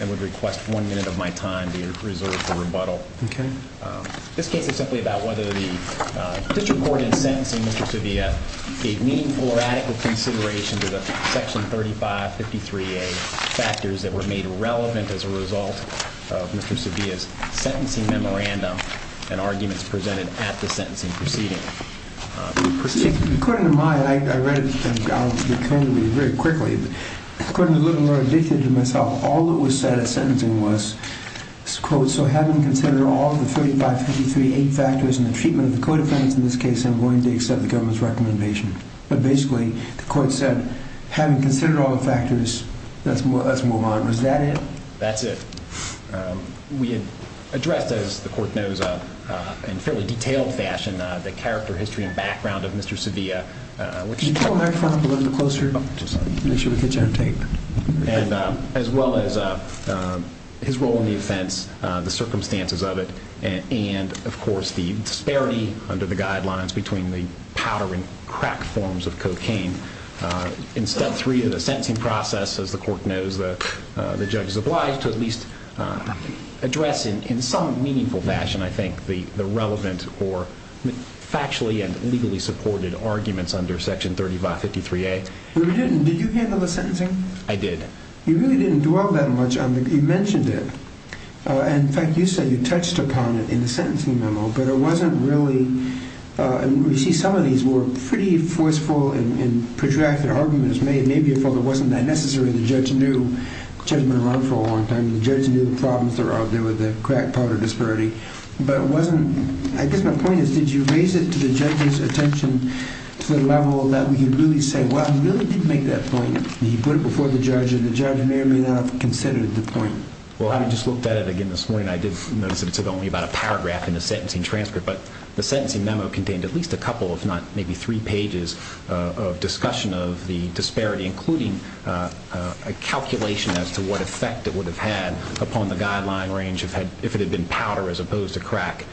and would request one minute of my time to reserve for rebuttal. Okay. This case is simply about whether the district court in sentencing Mr. Sevilla gave meaningful or adequate consideration to the Section 3553A factors that were made relevant as a result of Mr. Sevilla's sentencing memorandum and arguments presented at the sentencing proceeding. According to my, I read it very quickly, but according to a little more addicted to myself, all that was said at sentencing was, quote, so having considered all of the 3553A factors and the treatment of the co-defendants in this case, I'm willing to accept the government's recommendation. But basically, the court said, having considered all the factors, let's move on. Was that it? That's it. We had addressed, as the court knows, in fairly detailed fashion, the character, history, and background of Mr. Sevilla, as well as his role in the offense, the circumstances of it, and, of course, the disparity under the guidelines between the powder and crack forms of cocaine. And in step three of the sentencing process, as the court knows, the judge is obliged to at least address in some meaningful fashion, I think, the relevant or factually and legally supported arguments under Section 3553A. No, you didn't. Did you handle the sentencing? I did. You really didn't dwell that much on the, you mentioned it. In fact, you said you touched upon it in the sentencing memo, but it wasn't really, we see some of these were pretty forceful and protracted arguments made. Maybe it wasn't that necessary. The judge knew. The judge had been around for a long time. The judge knew the problems that were out there with the crack powder disparity. But it wasn't, I guess my point is, did you raise it to the judge's attention to the level that we could really say, well, he really did make that point. He put it before the judge, and the judge may or may not have considered the point. Well, I just looked at it again this morning. I did notice it took only about a paragraph in the sentencing transcript. But the sentencing memo contained at least a couple, if not maybe three pages, of discussion of the disparity, including a calculation as to what effect it would have had upon the guideline range if it had been powder as opposed to crack.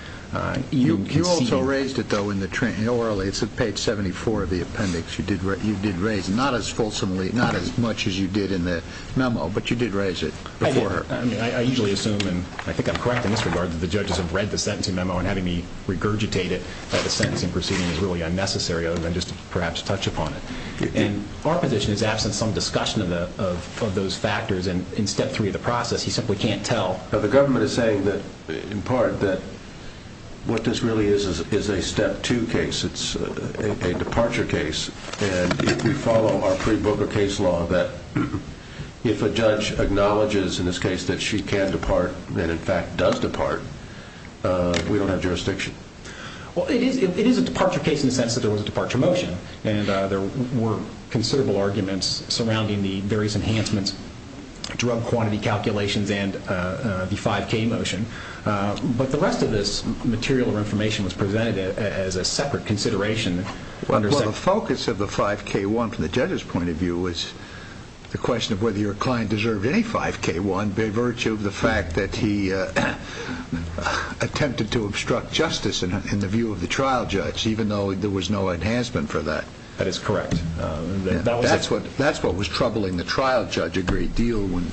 You also raised it, though, in the orally. It's at page 74 of the appendix. You did raise it, not as fulsomely, not as much as you did in the memo, but you did raise it before. I usually assume, and I think I'm correct in this regard, that the judges have read the sentencing memo and having me regurgitate it by the sentencing proceeding is really unnecessary other than just to perhaps touch upon it. And our position is absent some discussion of those factors. In Step 3 of the process, he simply can't tell. The government is saying that, in part, that what this really is is a Step 2 case. It's a departure case. And if you follow our pre-Volker case law, that if a judge acknowledges in this case that she can depart and, in fact, does depart, we don't have jurisdiction. Well, it is a departure case in the sense that there was a departure motion, and there were considerable arguments surrounding the various enhancements, drug quantity calculations, and the 5K motion. But the rest of this material or information was presented as a separate consideration. Well, the focus of the 5K-1 from the judge's point of view was the question of whether your client deserved any 5K-1 by virtue of the fact that he attempted to obstruct justice in the view of the trial judge, even though there was no enhancement for that. That is correct. That's what was troubling the trial judge's agreed deal when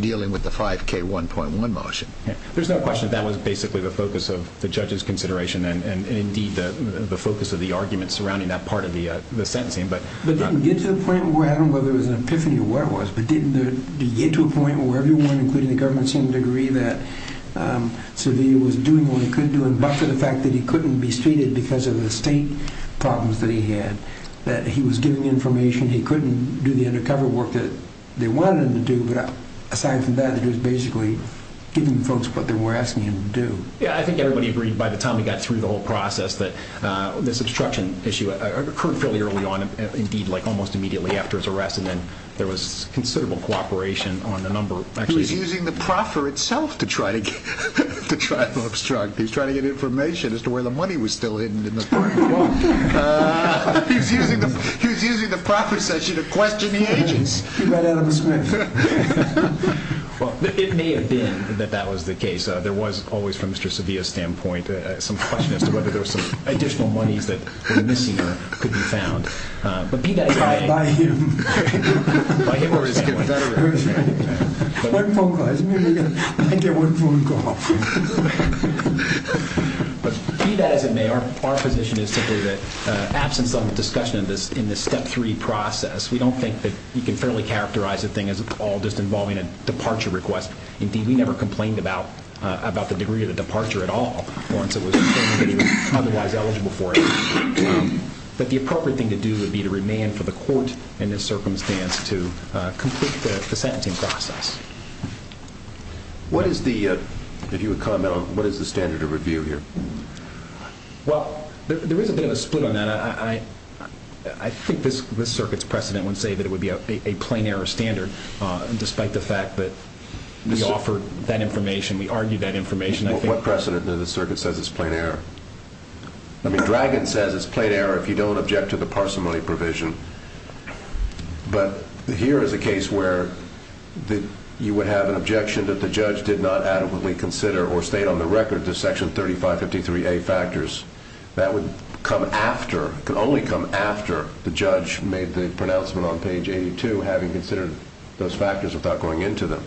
dealing with the 5K-1.1 motion. There's no question that that was basically the focus of the judge's consideration and, indeed, the focus of the arguments surrounding that part of the sentencing. But it didn't get to the point where, I don't know whether it was an epiphany or what it was, but it didn't get to a point where everyone, including the government, seemed to agree that Seville was doing what he could do, but for the fact that he couldn't be stated because of the state problems that he had, that he was giving information, he couldn't do the undercover work that they wanted him to do. But aside from that, it was basically giving folks what they were asking him to do. Yeah, I think everybody agreed by the time we got through the whole process that this obstruction issue occurred fairly early on. Indeed, like almost immediately after his arrest, and then there was considerable cooperation on a number of actual issues. He was using the proffer itself to try to obstruct. He was trying to get information as to where the money was still hidden in the 5K. He was using the proffer session to question the agents. He ran out of a script. It may have been that that was the case. There was always, from Mr. Seville's standpoint, some question as to whether there was some additional monies that were missing or could be found. By him. By him or his family. One phone call. I get one phone call. Be that as it may, our position is simply that, absence of discussion in this Step 3 process, we don't think that you can fairly characterize the thing as all just involving a departure request. Indeed, we never complained about the degree of the departure at all, once it was determined that he was otherwise eligible for it. But the appropriate thing to do would be to remand for the court, in this circumstance, to complete the sentencing process. What is the standard of review here? Well, there is a bit of a split on that. I think this circuit's precedent would say that it would be a plain error standard, despite the fact that we offered that information, we argued that information. What precedent that the circuit says it's a plain error? I mean, Dragon says it's a plain error if you don't object to the parsimony provision. But here is a case where you would have an objection that the judge did not adequately consider or stayed on the record the Section 3553A factors. That would come after, could only come after, the judge made the pronouncement on page 82, having considered those factors without going into them.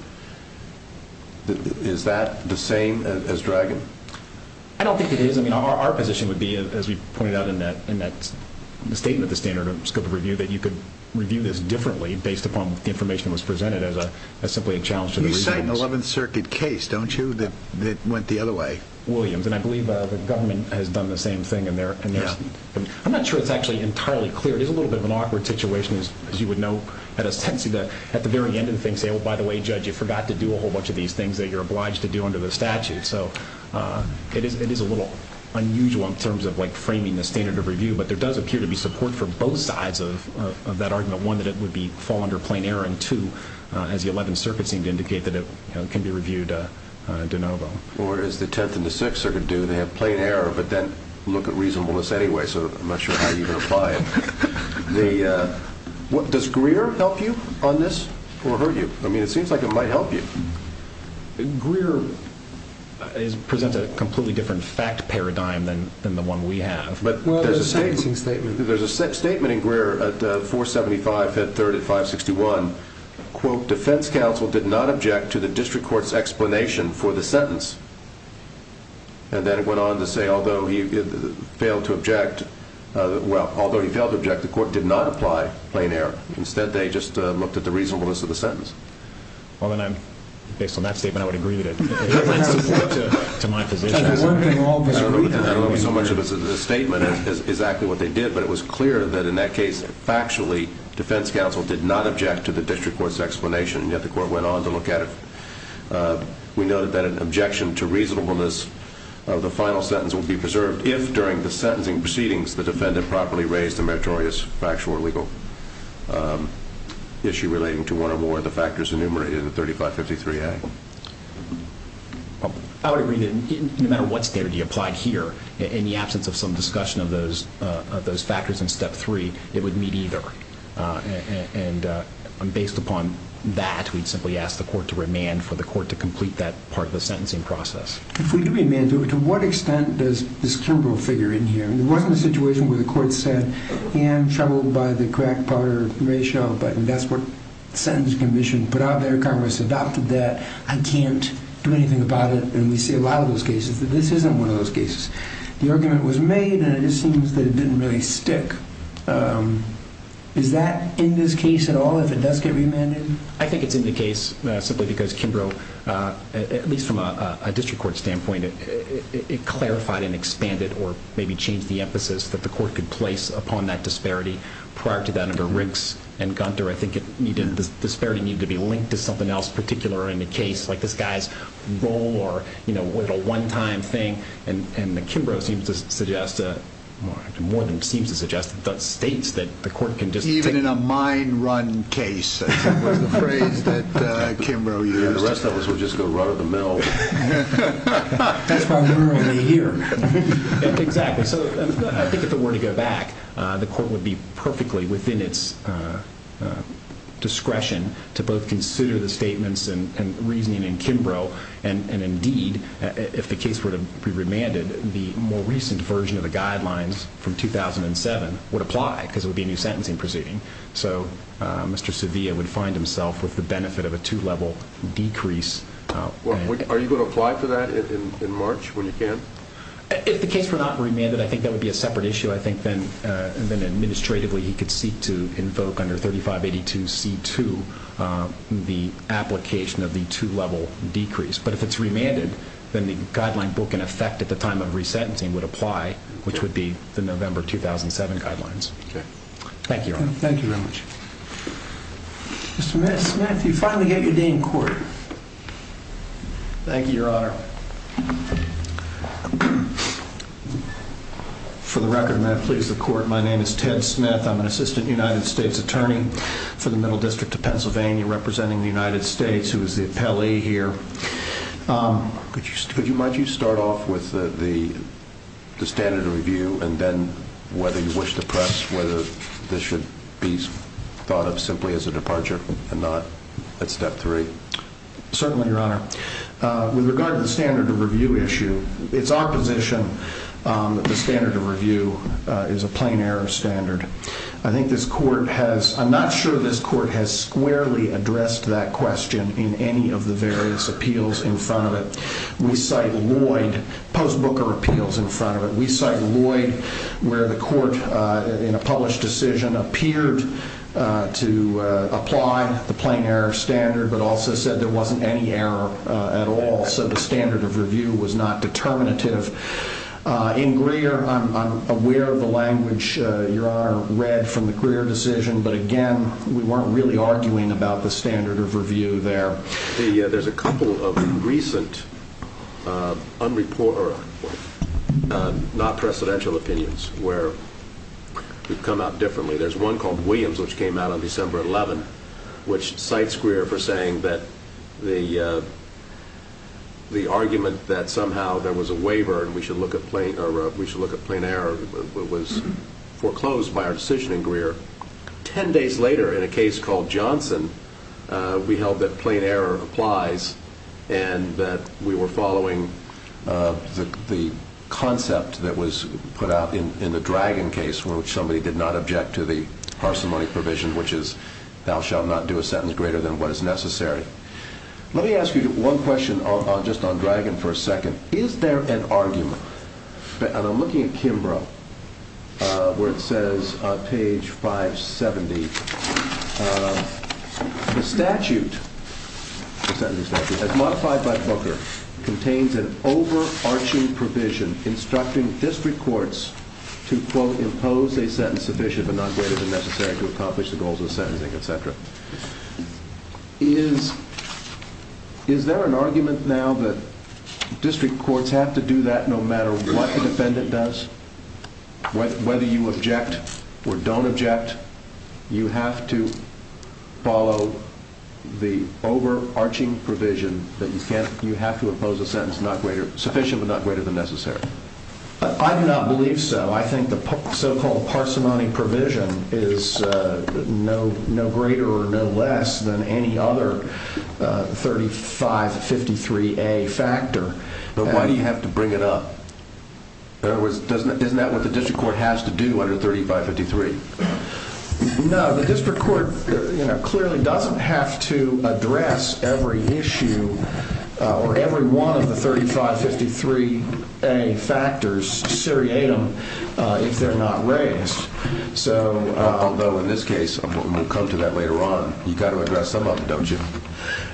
Is that the same as Dragon? I don't think it is. I mean, our position would be, as we pointed out in that statement, the standard of scope of review, that you could review this differently, based upon the information that was presented, as simply a challenge to the reasons. You cite an 11th Circuit case, don't you, that went the other way? Williams. And I believe the government has done the same thing. I'm not sure it's actually entirely clear. It is a little bit of an awkward situation, as you would know, at the very end of the thing saying, oh, by the way, Judge, you forgot to do a whole bunch of these things that you're obliged to do under the statute. So it is a little unusual in terms of framing the standard of review, but there does appear to be support for both sides of that argument. One, that it would fall under plain error, and two, as the 11th Circuit seemed to indicate, that it can be reviewed de novo. Or as the 10th and the 6th Circuit do, they have plain error, but then look at reasonableness anyway. So I'm not sure how you would apply it. Does Greer help you on this, or hurt you? I mean, it seems like it might help you. Greer presents a completely different fact paradigm than the one we have. Well, there's a sentencing statement. There's a statement in Greer at 475, Head Third at 561, quote, defense counsel did not object to the district court's explanation for the sentence. And then it went on to say, although he failed to object, well, although he failed to object, the court did not apply plain error. Instead, they just looked at the reasonableness of the sentence. Well, then, based on that statement, I would agree with it. It's in support to my position. I don't know if so much of the statement is exactly what they did, but it was clear that in that case, factually, defense counsel did not object to the district court's explanation, and yet the court went on to look at it. We noted that an objection to reasonableness of the final sentence will be preserved if, during the sentencing proceedings, the defendant properly raised a meritorious factual or legal issue relating to one or more of the factors enumerated in 3553A. I would agree that no matter what standard you applied here, in the absence of some discussion of those factors in Step 3, it would meet either. And based upon that, we'd simply ask the court to remand for the court to complete that part of the sentencing process. If we do remand, to what extent does this Kimbrell figure in here? There wasn't a situation where the court said, I am troubled by the crack-powder ratio, but that's what the Sentencing Commission put out there. Congress adopted that. I can't do anything about it. And we see a lot of those cases that this isn't one of those cases. The argument was made, and it just seems that it didn't really stick. Is that in this case at all, if it does get remanded? I think it's in the case simply because Kimbrell, at least from a district court standpoint, it clarified and expanded or maybe changed the emphasis that the court could place upon that disparity prior to that under Riggs and Gunther. I think the disparity needed to be linked to something else particular in the case, like this guy's role or a one-time thing. And Kimbrell seems to suggest, Even in a mind-run case is the phrase that Kimbrell used. The rest of us will just go run-of-the-mill. That's primarily here. Exactly. So I think if it were to go back, the court would be perfectly within its discretion to both consider the statements and reasoning in Kimbrell, and indeed, if the case were to be remanded, the more recent version of the guidelines from 2007 would apply because it would be a new sentencing proceeding. So Mr. Sevilla would find himself with the benefit of a two-level decrease. Are you going to apply for that in March when you can? If the case were not remanded, I think that would be a separate issue. I think then administratively he could seek to invoke under 3582C2 the application of the two-level decrease. But if it's remanded, then the guideline book, in effect, at the time of resentencing would apply, which would be the November 2007 guidelines. Thank you, Your Honor. Thank you very much. Mr. Smith, you finally get your day in court. Thank you, Your Honor. For the record, may I please the court? My name is Ted Smith. I'm an assistant United States attorney for the Middle District of Pennsylvania, representing the United States, who is the appellee here. Might you start off with the standard of review and then whether you wish to press whether this should be thought of simply as a departure and not at step three? Certainly, Your Honor. With regard to the standard of review issue, it's our position that the standard of review is a plain error standard. I'm not sure this court has squarely addressed that question in any of the various appeals in front of it. We cite Lloyd post-Booker appeals in front of it. We cite Lloyd where the court, in a published decision, appeared to apply the plain error standard but also said there wasn't any error at all, so the standard of review was not determinative. In Greer, I'm aware of the language, Your Honor, read from the Greer decision, but again, we weren't really arguing about the standard of review there. There's a couple of recent non-presidential opinions where we've come out differently. There's one called Williams, which came out on December 11th, which cites Greer for saying that the argument that somehow there was a waiver and we should look at plain error was foreclosed by our decision in Greer. Ten days later, in a case called Johnson, we held that plain error applies and that we were following the concept that was put out in the Dragon case in which somebody did not object to the parsimony provision, which is thou shalt not do a sentence greater than what is necessary. Let me ask you one question just on Dragon for a second. Is there an argument, and I'm looking at Kimbrough, where it says on page 570, the statute as modified by Booker contains an overarching provision instructing district courts to, quote, impose a sentence sufficient but not greater than necessary to accomplish the goals of sentencing, et cetera. Is there an argument now that district courts have to do that no matter what the defendant does? Whether you object or don't object, you have to follow the overarching provision that you have to impose a sentence sufficient but not greater than necessary. I do not believe so. I think the so-called parsimony provision is no greater or no less than any other 3553A factor. But why do you have to bring it up? Isn't that what the district court has to do under 3553? No, the district court clearly doesn't have to address every issue or every one of the 3553A factors, seriatim, if they're not raised. Although in this case, we'll come to that later on, you've got to address some of them, don't you?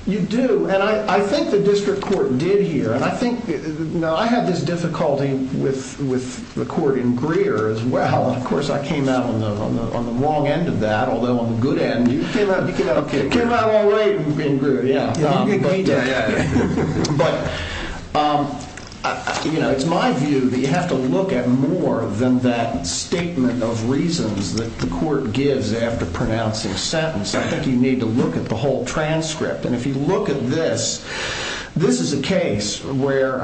You do, and I think the district court did here. I had this difficulty with the court in Greer as well. Of course, I came out on the wrong end of that, although on the good end, you came out all right in Greer. But it's my view that you have to look at more than that statement of reasons that the court gives after pronouncing a sentence. I think you need to look at the whole transcript. And if you look at this, this is a case where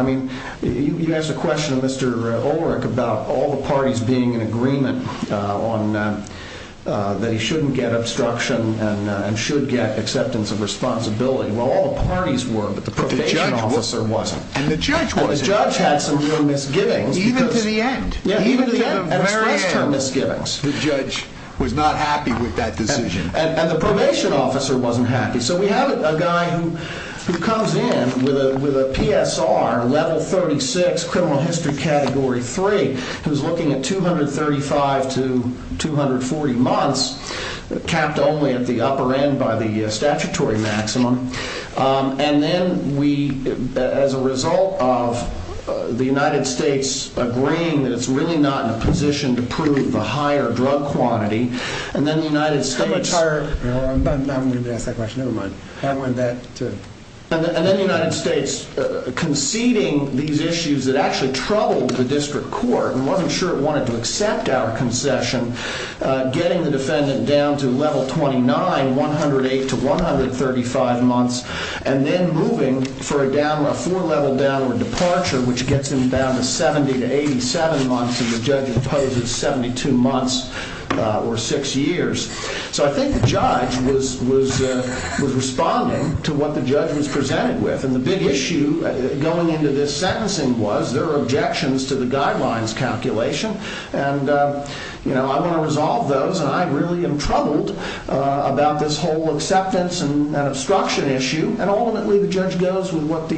you ask a question of Mr. Ulrich about all the parties being in agreement that he shouldn't get obstruction and should get acceptance of responsibility. Well, all the parties were, but the probation officer wasn't. And the judge wasn't. And the judge had some real misgivings. Even to the end. Even to the end. Express term misgivings. The judge was not happy with that decision. And the probation officer wasn't happy. So we have a guy who comes in with a PSR, level 36, criminal history category 3, who's looking at 235 to 240 months, capped only at the upper end by the statutory maximum. And then we, as a result of the United States agreeing that it's really not in a position to prove the higher drug quantity, and then the United States. I'm going to ask that question. Never mind. And then the United States conceding these issues that actually troubled the district court, and wasn't sure it wanted to accept our concession, getting the defendant down to level 29, 108 to 135 months, and then moving for a four-level downward departure, which gets him down to 70 to 87 months, and the judge imposes 72 months or six years. So I think the judge was responding to what the judge was presented with. And the big issue going into this sentencing was there were objections to the guidelines calculation. And I want to resolve those, and I really am troubled about this whole acceptance and obstruction issue. And ultimately, the judge goes with what the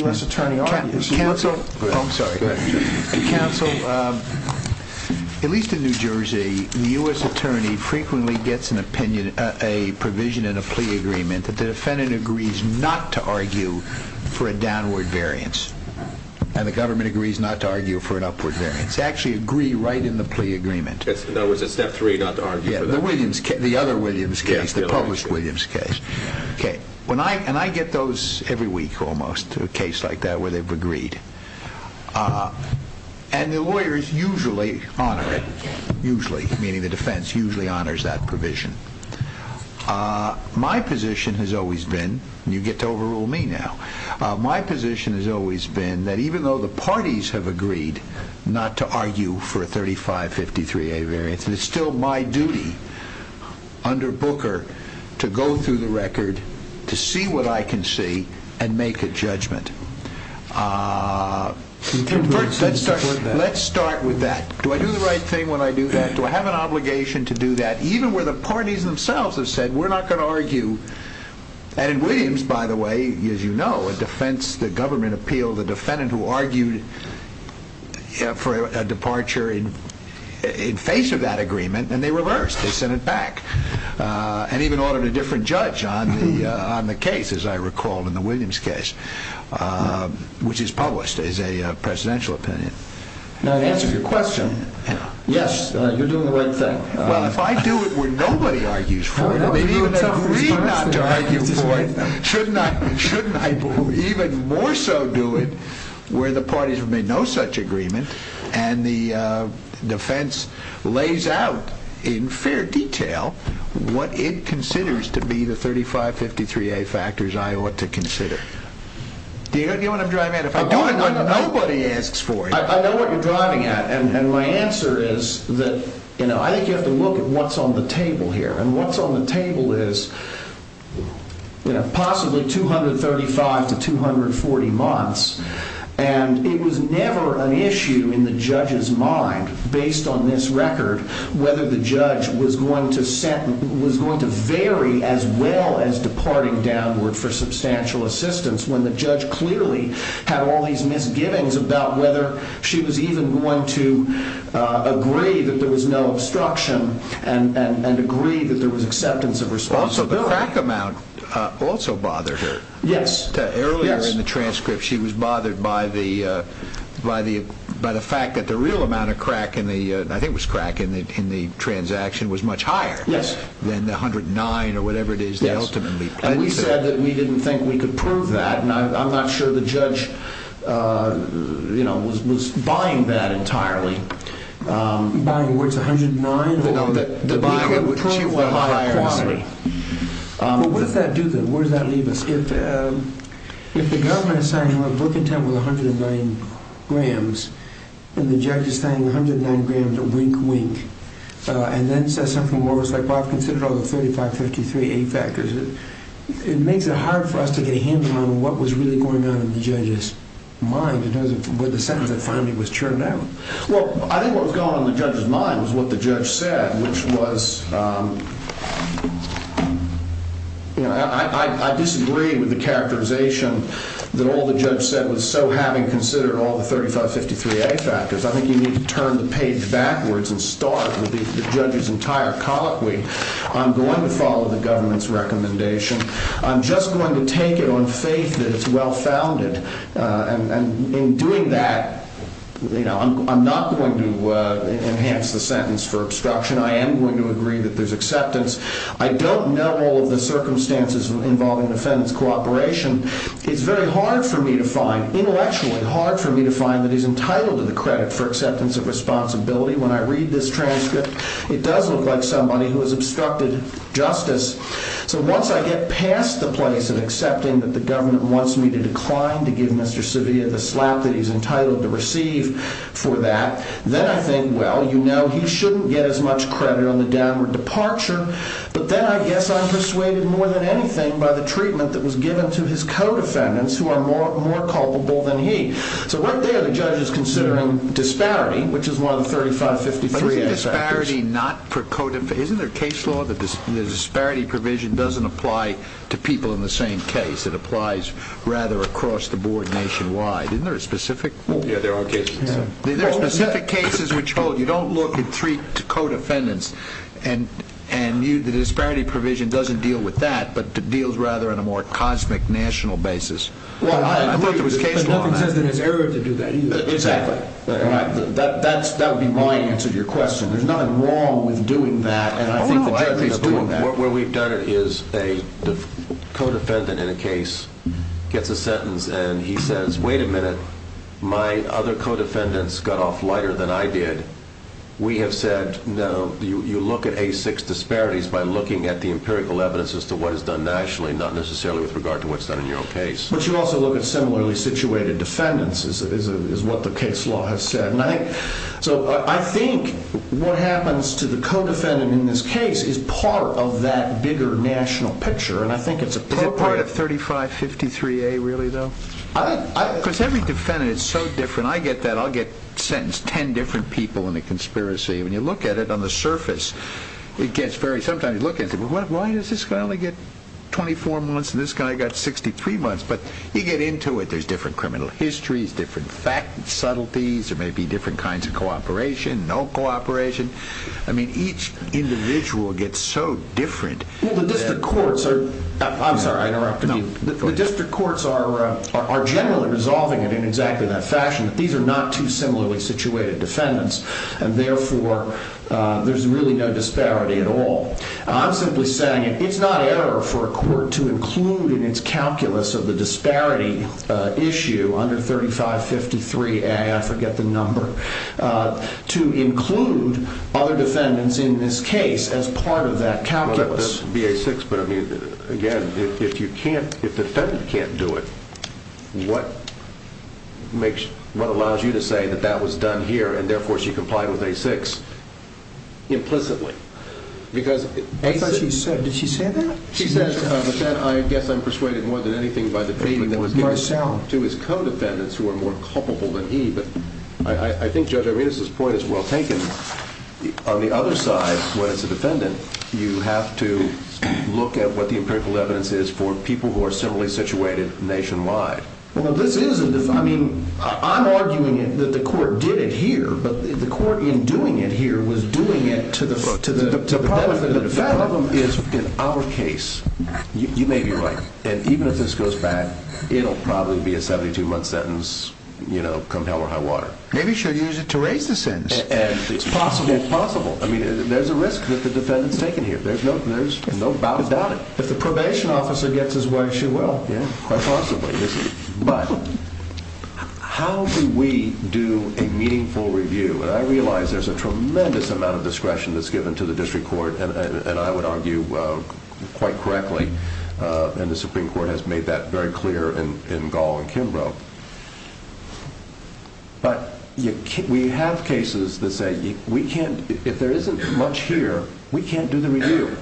U.S. attorney argues. Counsel, at least in New Jersey, the U.S. attorney frequently gets a provision in a plea agreement that the defendant agrees not to argue for a downward variance, and the government agrees not to argue for an upward variance. They actually agree right in the plea agreement. In other words, it's step three not to argue for that. The other Williams case, the published Williams case. And I get those every week almost, a case like that where they've agreed. And the lawyers usually honor it, usually, meaning the defense usually honors that provision. My position has always been, and you get to overrule me now, my position has always been that even though the parties have agreed not to argue for a 3553A variance, it's still my duty under Booker to go through the record to see what I can see and make a judgment. Let's start with that. Do I do the right thing when I do that? Do I have an obligation to do that? Even where the parties themselves have said, we're not going to argue. And in Williams, by the way, as you know, a defense, the government appealed the defendant who argued for a departure in face of that agreement, and they reversed. They sent it back. And even ordered a different judge on the case, as I recall, in the Williams case, which is published as a presidential opinion. Now, to answer your question, yes, you're doing the right thing. Well, if I do it where nobody argues for it, they've even agreed not to argue for it, shouldn't I even more so do it where the parties have made no such agreement and the defense lays out in fair detail what it considers to be the 3553A factors I ought to consider? Do you know what I'm driving at? Nobody asks for it. I know what you're driving at. And my answer is that I think you have to look at what's on the table here. And what's on the table is possibly 235 to 240 months. And it was never an issue in the judge's mind, based on this record, whether the judge was going to vary as well as departing downward for substantial assistance when the judge clearly had all these misgivings about whether she was even going to agree that there was no obstruction and agree that there was acceptance of responsibility. Also, the crack amount also bothered her. Yes. Earlier in the transcript, she was bothered by the fact that the real amount of crack in the, I think it was crack in the transaction, was much higher than the 109 or whatever it is they ultimately pledged to. And we said that we didn't think we could prove that. And I'm not sure the judge, you know, was buying that entirely. Buying where it's 109? No. To prove the higher quantity. Well, what does that do then? Where does that leave us? If the government is signing a book intent with 109 grams and the judge is signing 109 grams of wink, wink, and then says something where it's like, well, I've considered all the 3553A factors, it makes it hard for us to get a handle on what was really going on in the judge's mind with the sentence that finally was churned out. Well, I think what was going on in the judge's mind was what the judge said, which was, you know, I disagree with the characterization that all the judge said was so having considered all the 3553A factors. I think you need to turn the page backwards and start with the judge's entire colloquy. I'm going to follow the government's recommendation. I'm just going to take it on faith that it's well-founded. And in doing that, you know, I'm not going to enhance the sentence for obstruction. I am going to agree that there's acceptance. I don't know all of the circumstances involving defendant's cooperation. It's very hard for me to find, intellectually hard for me to find, that he's entitled to the credit for acceptance of responsibility. When I read this transcript, it does look like somebody who has obstructed justice. So once I get past the place of accepting that the government wants me to decline to give Mr. Sevilla the slap that he's entitled to receive for that, then I think, well, you know, he shouldn't get as much credit on the downward departure. But then I guess I'm persuaded more than anything by the treatment that was given to his co-defendants who are more culpable than he. So right there the judge is considering disparity, which is one of the 3553A factors. But isn't disparity not for co-defendants? Isn't there a case law that the disparity provision doesn't apply to people in the same case? It applies rather across the board nationwide. Isn't there a specific? Yeah, there are cases. There are specific cases which hold. But if you don't look at three co-defendants and the disparity provision doesn't deal with that but deals rather on a more cosmic national basis. Well, I haven't looked at this case law. But nothing says in this area to do that either. Exactly. That would be my answer to your question. There's nothing wrong with doing that. And I think the judge is doing that. What we've done is the co-defendant in a case gets a sentence and he says, wait a minute, my other co-defendants got off lighter than I did. We have said, no, you look at A6 disparities by looking at the empirical evidence as to what is done nationally not necessarily with regard to what's done in your own case. But you also look at similarly situated defendants is what the case law has said. So I think what happens to the co-defendant in this case is part of that bigger national picture. And I think it's appropriate. Is it part of 3553A really though? Because every defendant is so different. I get that. I'll get sentenced 10 different people in a conspiracy. When you look at it on the surface, it gets very, sometimes you look at it, why does this guy only get 24 months and this guy got 63 months? But you get into it. There's different criminal histories, different subtleties. There may be different kinds of cooperation, no cooperation. I mean, each individual gets so different. Well, the district courts are, I'm sorry, I interrupted you. The district courts are generally resolving it in exactly that fashion. These are not two similarly situated defendants. And therefore, there's really no disparity at all. I'm simply saying it's not error for a court to include in its calculus of the disparity issue under 3553A, I forget the number, to include other defendants in this case as part of that calculus. That would be A6. But, I mean, again, if you can't, if the defendant can't do it, what allows you to say that that was done here and therefore she complied with A6? Implicitly. I thought she said, did she say that? She said, but then I guess I'm persuaded more than anything to his co-defendants who are more culpable than he. But I think Judge Arenas' point is well taken. On the other side, when it's a defendant, you have to look at what the empirical evidence is for people who are similarly situated nationwide. Well, this is, I mean, I'm arguing that the court did it here, but the court in doing it here was doing it to the benefit of the defendant. The problem is, in our case, you may be right, and even if this goes back, it'll probably be a 72-month sentence, you know, come hell or high water. Maybe she'll use it to raise the sentence. It's possible. It's possible. I mean, there's a risk that the defendant's taken here. There's no doubt about it. If the probation officer gets his way, she will. Yeah, quite possibly. But how do we do a meaningful review? And I realize there's a tremendous amount of discretion that's given to the district court, and I would argue quite correctly, and the Supreme Court has made that very clear in Gall and Kimbrough. But we have cases that say we can't, if there isn't much here, we can't do the review.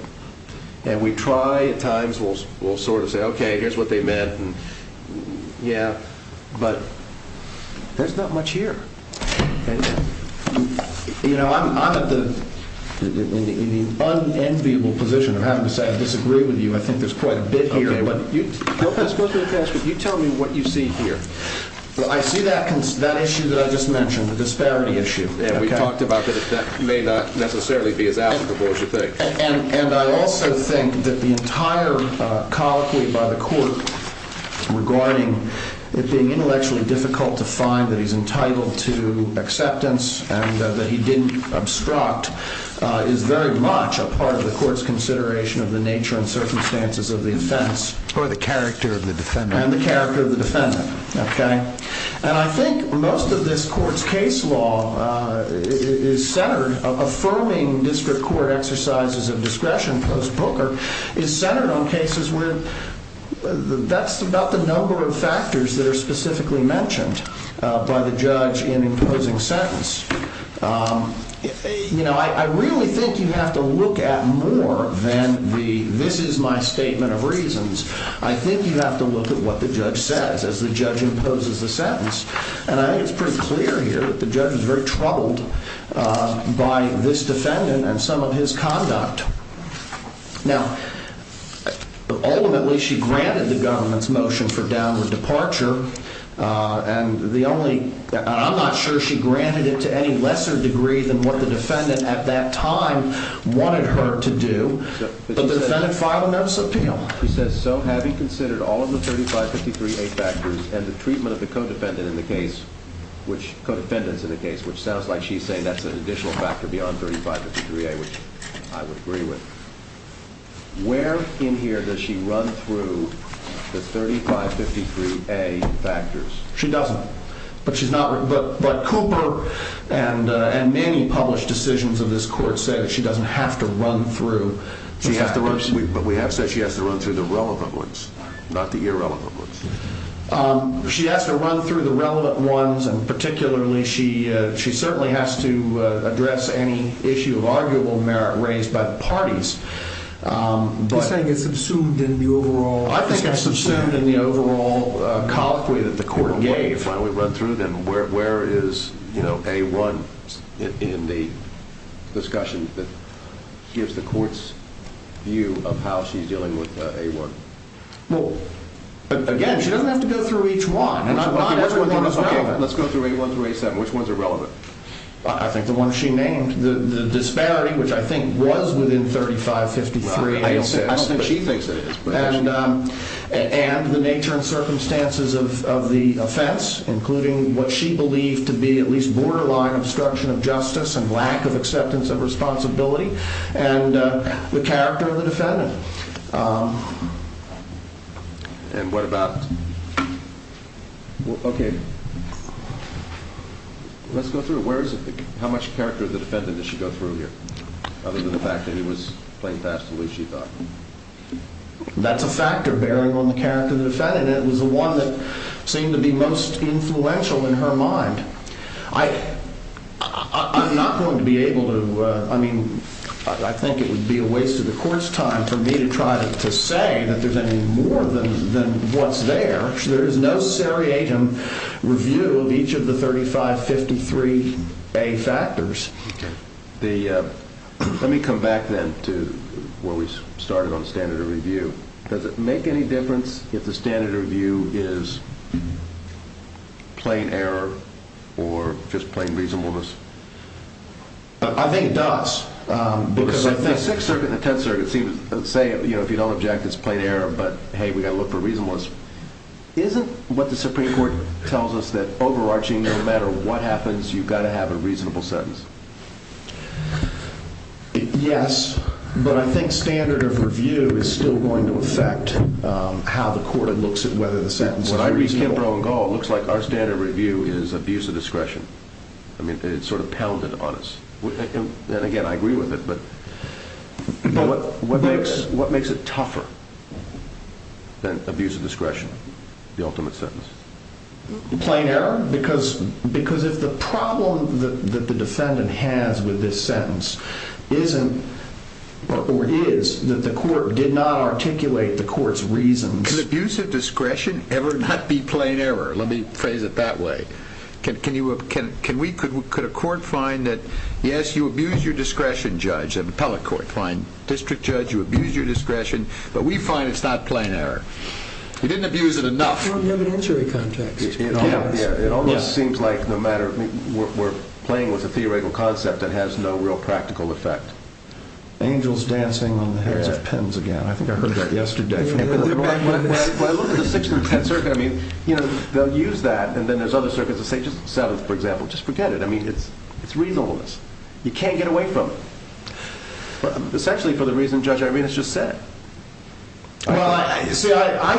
And we try at times. We'll sort of say, okay, here's what they meant, and yeah, but there's not much here. You know, I'm at the unenviable position of having to say I disagree with you. I think there's quite a bit here. Okay, but you tell me what you see here. Well, I see that issue that I just mentioned, the disparity issue. Yeah, we talked about that may not necessarily be as applicable as you think. And I also think that the entire colloquy by the court regarding it being intellectually difficult to find that he's entitled to acceptance and that he didn't obstruct is very much a part of the court's consideration of the nature and circumstances of the offense. Or the character of the defendant. And the character of the defendant, okay? And I think most of this court's case law is centered, affirming district court exercises of discretion post-Booker, is centered on cases where that's about the number of factors that are specifically mentioned by the judge in imposing sentence. You know, I really think you have to look at more than the this is my statement of reasons. I think you have to look at what the judge says as the judge imposes the sentence. And I think it's pretty clear here that the judge was very troubled by this defendant and some of his conduct. Now, ultimately she granted the government's motion for downward departure. And the only, I'm not sure she granted it to any lesser degree than what the defendant at that time wanted her to do. But the defendant filed a notice of appeal. She says, so having considered all of the 3553A factors and the treatment of the co-defendant in the case, which co-defendants in the case, which sounds like she's saying that's an additional factor beyond 3553A, which I would agree with. Where in here does she run through the 3553A factors? She doesn't. But Cooper and many published decisions of this court say that she doesn't have to run through. But we have said she has to run through the relevant ones, not the irrelevant ones. She has to run through the relevant ones. And particularly she certainly has to address any issue of arguable merit raised by the parties. He's saying it's assumed in the overall. I think it's assumed in the overall colloquy that the court gave. If they finally run through them, where is A1 in the discussion that gives the court's view of how she's dealing with A1? Again, she doesn't have to go through each one. Let's go through A1 through A7. Which one's irrelevant? I think the one she named, the disparity, which I think was within 3553A. I don't think she thinks it is. And the nature and circumstances of the offense, including what she believed to be at least borderline obstruction of justice and lack of acceptance of responsibility. And the character of the defendant. Let's go through it. How much character of the defendant does she go through here? Other than the fact that he was playing fast and loose, she thought. That's a factor bearing on the character of the defendant. It was the one that seemed to be most influential in her mind. I'm not going to be able to, I mean, I think it would be a waste of the court's time for me to try to say that there's any more than what's there. There is no seriatim review of each of the 3553A factors. Let me come back then to where we started on the standard of review. Does it make any difference if the standard of review is plain error or just plain reasonableness? I think it does. Because the Sixth Circuit and the Tenth Circuit seem to say, you know, if you don't object, it's plain error. But, hey, we've got to look for reasonableness. Isn't what the Supreme Court tells us that overarching no matter what happens, you've got to have a reasonable sentence? Yes, but I think standard of review is still going to affect how the court looks at whether the sentence is reasonable. When I read Kimbrough and Gall, it looks like our standard of review is abuse of discretion. I mean, it's sort of pounded on us. And, again, I agree with it. But what makes it tougher than abuse of discretion, the ultimate sentence? Plain error. Because if the problem that the defendant has with this sentence isn't or is that the court did not articulate the court's reasons. Can abuse of discretion ever not be plain error? Let me phrase it that way. Could a court find that, yes, you abuse your discretion, judge, an appellate court. Fine. District judge, you abuse your discretion. But we find it's not plain error. You didn't abuse it enough. It almost seems like we're playing with a theoretical concept that has no real practical effect. Angels dancing on the hairs of pens again. I think I heard that yesterday. When I look at the 6th and 10th circuit, I mean, you know, they'll use that. And then there's other circuits that say just 7th, for example. Just forget it. I mean, it's reasonableness. You can't get away from it. Essentially for the reason Judge Irenas just said. Well, you see, I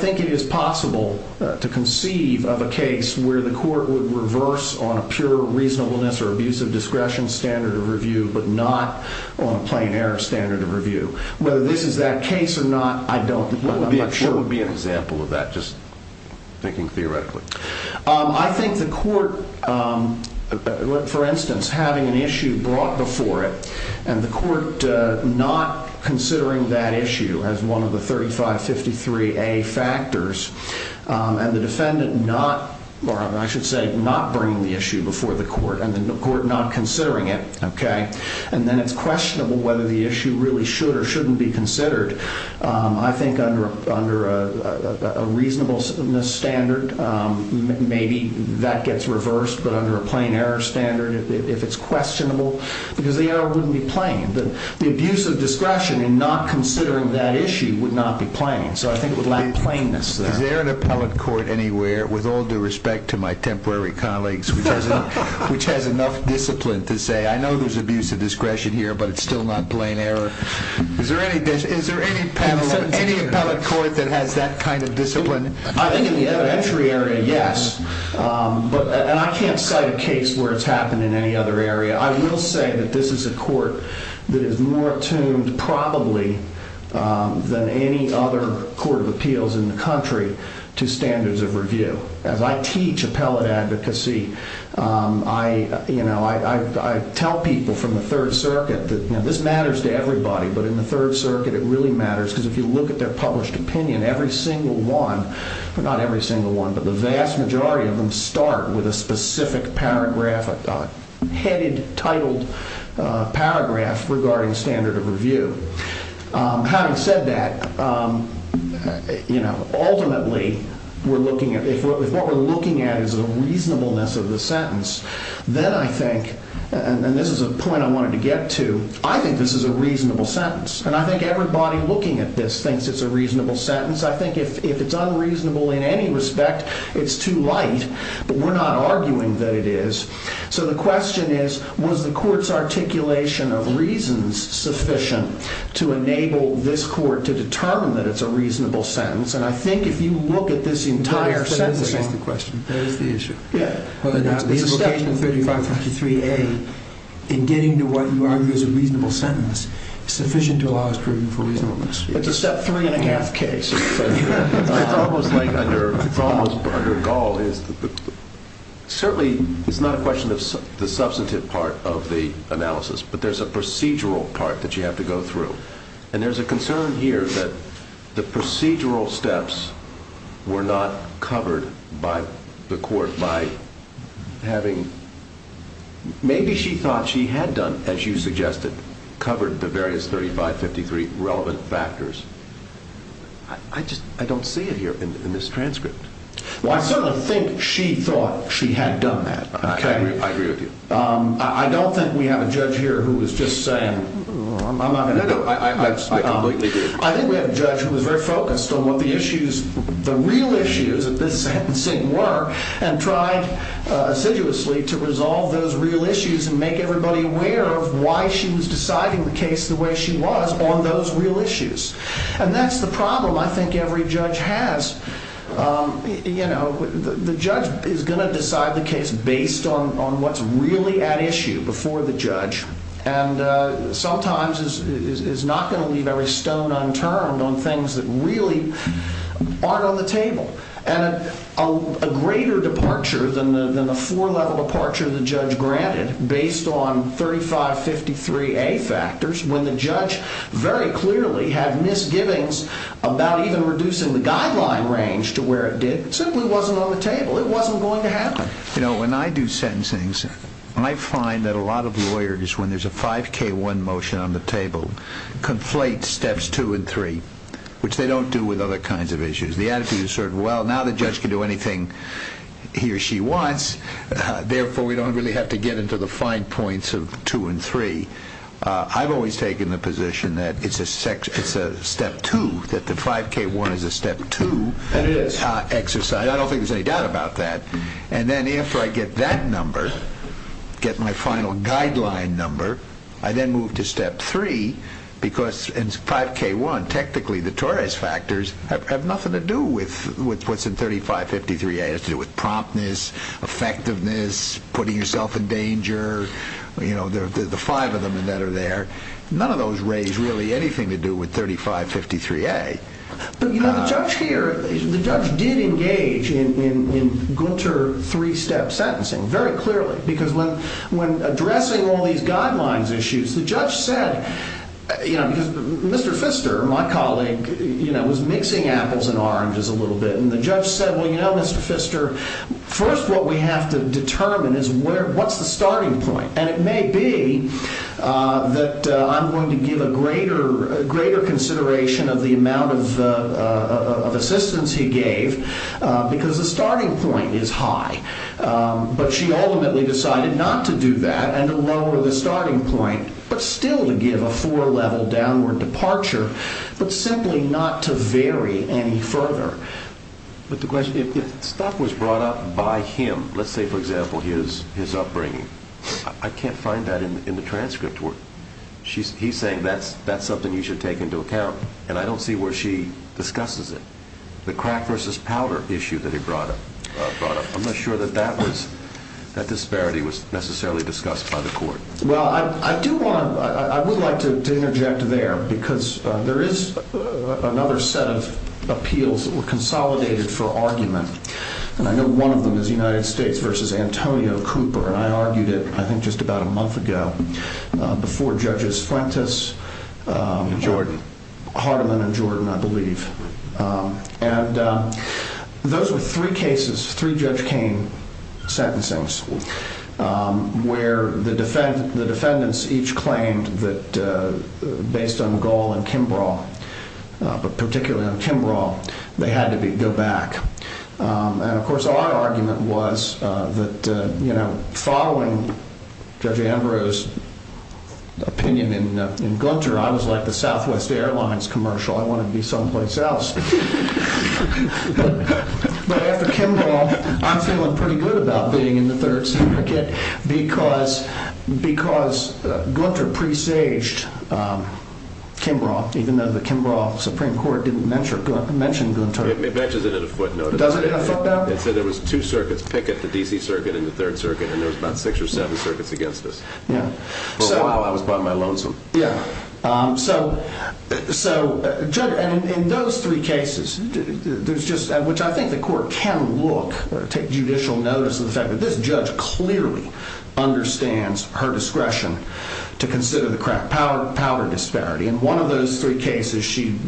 think it is possible to conceive of a case where the court would reverse on a pure reasonableness or abuse of discretion standard of review but not on a plain error standard of review. Whether this is that case or not, I don't. What would be an example of that? Just thinking theoretically. I think the court, for instance, having an issue brought before it and the court not considering that issue as one of the 3553A factors and the defendant not, or I should say not bringing the issue before the court and the court not considering it. And then it's questionable whether the issue really should or shouldn't be considered. I think under a reasonableness standard, maybe that gets reversed. But under a plain error standard, if it's questionable, because the error wouldn't be plain. The abuse of discretion in not considering that issue would not be plain. So I think it would lack plainness there. Is there an appellate court anywhere, with all due respect to my temporary colleagues, which has enough discipline to say I know there's abuse of discretion here but it's still not plain error? Is there any appellate court that has that kind of discipline? I think in the evidentiary area, yes. And I can't cite a case where it's happened in any other area. I will say that this is a court that is more attuned probably than any other court of appeals in the country to standards of review. As I teach appellate advocacy, I tell people from the Third Circuit that this matters to everybody. But in the Third Circuit, it really matters. Because if you look at their published opinion, every single one, not every single one, but the vast majority of them start with a specific paragraph, a headed, titled paragraph regarding standard of review. Having said that, ultimately, if what we're looking at is a reasonableness of the sentence, then I think, and this is a point I wanted to get to, I think this is a reasonable sentence. And I think everybody looking at this thinks it's a reasonable sentence. I think if it's unreasonable in any respect, it's too light. But we're not arguing that it is. So the question is, was the court's articulation of reasons sufficient to enable this court to determine that it's a reasonable sentence? And I think if you look at this entire sentence. There is the issue. Yeah. The implication of 3553A, in getting to what you argue is a reasonable sentence, is sufficient to allow us proving for reasonableness. It's a step three and a half case. It's almost like under Gaul, certainly it's not a question of the substantive part of the analysis. But there's a procedural part that you have to go through. And there's a concern here that the procedural steps were not covered by the court. By having, maybe she thought she had done, as you suggested, covered the various 3553 relevant factors. I just, I don't see it here in this transcript. Well, I certainly think she thought she had done that. I agree with you. I don't think we have a judge here who is just saying, I'm not going to. I completely agree. I think we have a judge who is very focused on what the issues, the real issues of this sentencing were. And tried assiduously to resolve those real issues and make everybody aware of why she was deciding the case the way she was on those real issues. And that's the problem I think every judge has. You know, the judge is going to decide the case based on what's really at issue before the judge. And sometimes is not going to leave every stone unturned on things that really aren't on the table. And a greater departure than the four level departure the judge granted, based on 3553A factors, when the judge very clearly had misgivings about even reducing the guideline range to where it did, simply wasn't on the table. It wasn't going to happen. You know, when I do sentencing, I find that a lot of lawyers, when there's a 5K1 motion on the table, conflate steps two and three, which they don't do with other kinds of issues. The attitude is sort of, well, now the judge can do anything he or she wants, therefore we don't really have to get into the fine points of two and three. I've always taken the position that it's a step two, that the 5K1 is a step two exercise. I don't think there's any doubt about that. And then after I get that number, get my final guideline number, I then move to step three, because in 5K1, technically the Torres factors have nothing to do with what's in 3553A. It has to do with promptness, effectiveness, putting yourself in danger, you know, the five of them that are there. None of those raise really anything to do with 3553A. But, you know, the judge here, the judge did engage in Gunter three-step sentencing very clearly, because when addressing all these guidelines issues, the judge said, you know, because Mr. Pfister, my colleague, you know, was mixing apples and oranges a little bit, and the judge said, well, you know, Mr. Pfister, first what we have to determine is what's the starting point. And it may be that I'm going to give a greater consideration of the amount of assistance he gave, because the starting point is high. But she ultimately decided not to do that and to lower the starting point, but still to give a four-level downward departure, but simply not to vary any further. But the question, if stuff was brought up by him, let's say, for example, his upbringing, I can't find that in the transcript. He's saying that's something you should take into account, and I don't see where she discusses it. The crack versus powder issue that he brought up, I'm not sure that that disparity was necessarily discussed by the court. Well, I do want to – I would like to interject there, because there is another set of appeals that were consolidated for argument, and I know one of them is United States versus Antonio Cooper, and I argued it, I think, just about a month ago before Judges Frentis, Hardiman, and Jordan, I believe. And those were three cases, three Judge Kane sentencings, where the defendants each claimed that based on Gohl and Kimbrough, but particularly on Kimbrough, they had to go back. And, of course, our argument was that, you know, following Judge Ambrose's opinion in Gunter, I was like the Southwest Airlines commercial, I wanted to be someplace else. But after Kimbrough, I'm feeling pretty good about being in the third circuit, because Gunter presaged Kimbrough, even though the Kimbrough Supreme Court didn't mention Gunter. It mentions it in a footnote. Does it in a footnote? It said there was two circuits, Pickett, the D.C. circuit, and the third circuit, and there was about six or seven circuits against us. Yeah. So while I was buying my loans from them. Yeah. So, Judge, in those three cases, there's just, which I think the court can look, take judicial notice of the fact that this judge clearly understands her discretion to consider the power disparity. In one of those three cases, she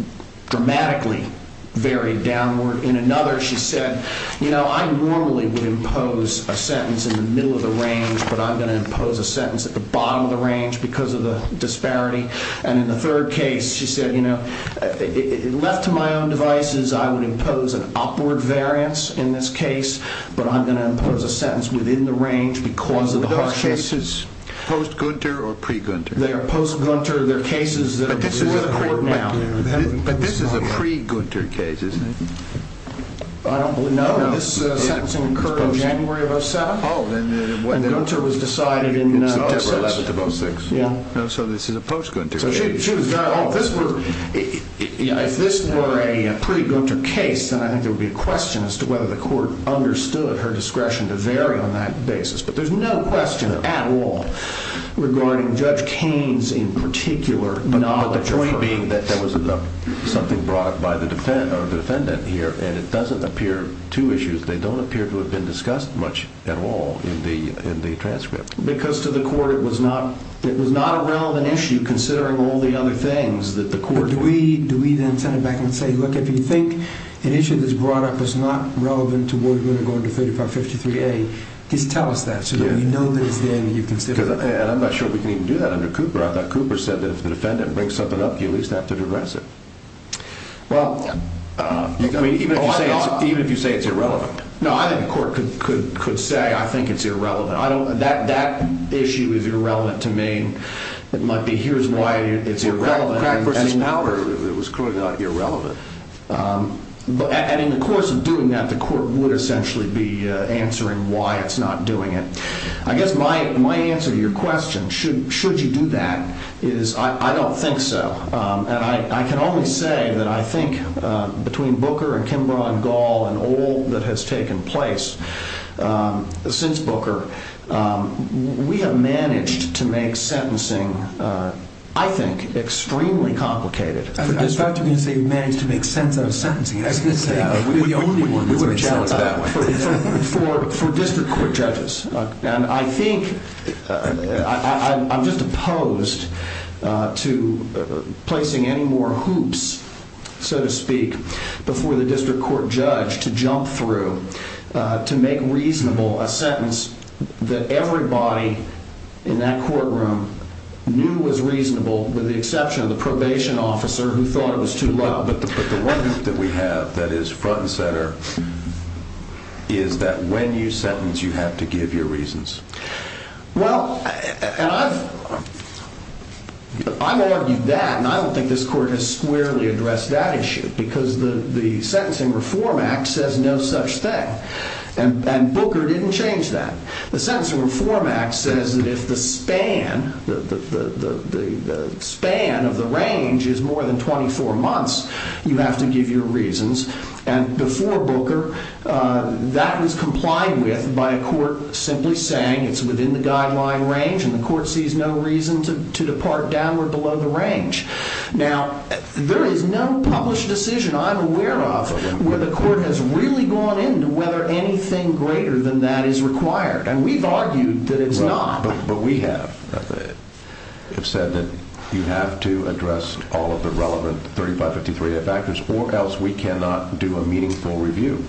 dramatically varied downward. In another, she said, you know, I normally would impose a sentence in the middle of the range, but I'm going to impose a sentence at the bottom of the range because of the disparity. And in the third case, she said, you know, left to my own devices, I would impose an upward variance in this case, but I'm going to impose a sentence within the range because of the harshness. Are those cases post-Gunter or pre-Gunter? They are post-Gunter. They're cases that are before the court now. But this is a pre-Gunter case, isn't it? I don't believe, no. This sentencing occurred in January of 2007. And Gunter was decided in September of 2006. So this is a post-Gunter case. If this were a pre-Gunter case, then I think there would be a question as to whether the court understood her discretion to vary on that basis. But there's no question at all regarding Judge Kane's in particular knowledge of her case. But the point being that there was something brought up by the defendant here, and it doesn't appear two issues. They don't appear to have been discussed much at all in the transcript. Because to the court it was not a relevant issue, considering all the other things that the court. Do we then send it back and say, look, if you think an issue that's brought up is not relevant to where we're going to go into 3553A, just tell us that so that we know that it's there and you consider it. And I'm not sure we can even do that under Cooper. I thought Cooper said that if the defendant brings something up, you at least have to digress it. Well, even if you say it's irrelevant. No, I think the court could say I think it's irrelevant. That issue is irrelevant to me. It might be here's why it's irrelevant. Crack versus powder, it was clearly not irrelevant. And in the course of doing that, the court would essentially be answering why it's not doing it. I guess my answer to your question, should you do that, is I don't think so. And I can only say that I think between Booker and Kimbrough and Gaul and all that has taken place since Booker, we have managed to make sentencing, I think, extremely complicated. I thought you were going to say we managed to make sense out of sentencing. I was going to say we're the only ones. For district court judges. And I think I'm just opposed to placing any more hoops, so to speak, before the district court judge to jump through to make reasonable a sentence that everybody in that courtroom knew was reasonable, with the exception of the probation officer who thought it was too low. But the one hoop that we have that is front and center is that when you sentence, you have to give your reasons. Well, I've argued that, and I don't think this court has squarely addressed that issue because the Sentencing Reform Act says no such thing. And Booker didn't change that. The Sentencing Reform Act says that if the span of the range is more than 24 months, you have to give your reasons. And before Booker, that was complied with by a court simply saying it's within the guideline range and the court sees no reason to depart downward below the range. Now, there is no published decision I'm aware of where the court has really gone into whether anything greater than that is required. And we've argued that it's not. But we have said that you have to address all of the relevant 3553A factors or else we cannot do a meaningful review.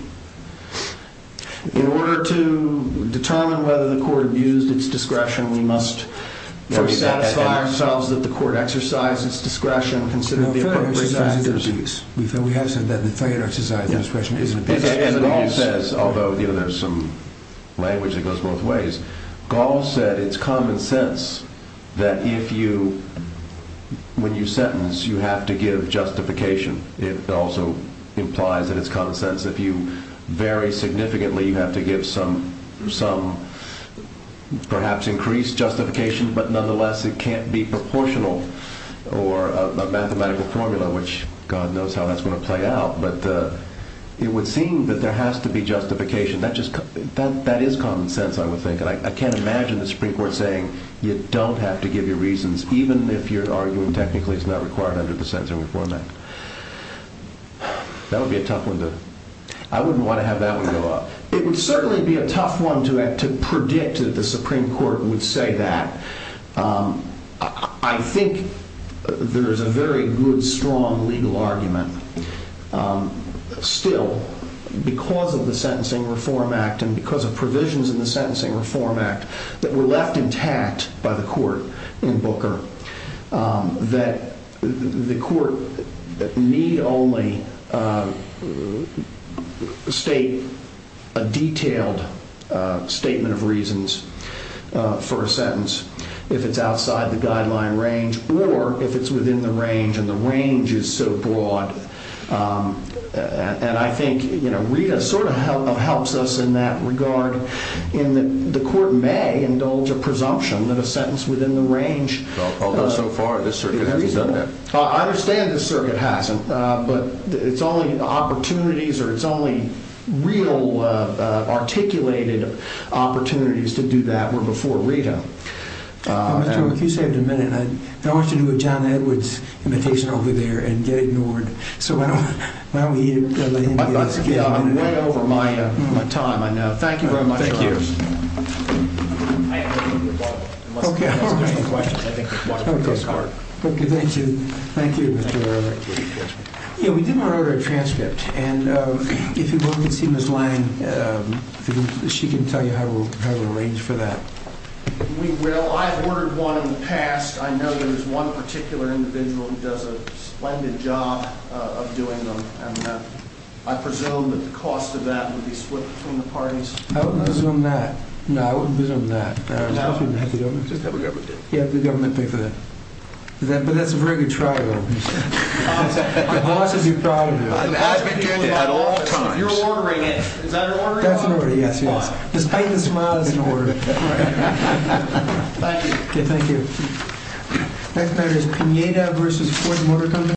In order to determine whether the court abused its discretion, we must first satisfy ourselves that the court exercised its discretion considering the appropriate factors. We have said that the court exercised its discretion. Although there's some language that goes both ways, Gall said it's common sense that when you sentence, you have to give justification. It also implies that it's common sense that if you vary significantly, you have to give some perhaps increased justification. But nonetheless, it can't be proportional or a mathematical formula, which God knows how that's going to play out. But it would seem that there has to be justification. That is common sense, I would think. And I can't imagine the Supreme Court saying you don't have to give your reasons, even if you're arguing technically it's not required under the Sentencing Reform Act. That would be a tough one to... I wouldn't want to have that one go up. It would certainly be a tough one to predict that the Supreme Court would say that. I think there is a very good, strong legal argument still, because of the Sentencing Reform Act and because of provisions in the Sentencing Reform Act that were left intact by the court in Booker, that the court need only state a detailed statement of reasons for a sentence if it's outside the guideline range or if it's within the range, and the range is so broad. And I think Rita sort of helps us in that regard. The court may indulge a presumption that a sentence within the range is reasonable. Although so far this circuit hasn't done that. I understand this circuit hasn't, but it's only opportunities or it's only real articulated opportunities to do that were before Rita. If you saved a minute, I want to do a John Edwards imitation over there and get ignored. So why don't we... I'm way over my time, I know. Thank you very much. Thank you. We did want to order a transcript. And if you want to see Ms. Lang, she can tell you how to arrange for that. We will. I've ordered one in the past. I know there's one particular individual who does a splendid job of doing them. And I presume that the cost of that would be split between the parties. I wouldn't assume that. No, I wouldn't assume that. Just have the government do it. Yeah, have the government pay for that. But that's a very good trial, though. The bosses are proud of you. I've been doing it at all times. You're ordering it. Is that an order? That's an order, yes. Despite the smile, it's an order. Thank you. Thank you. Next matter is Pineda v. Ford Motor Company.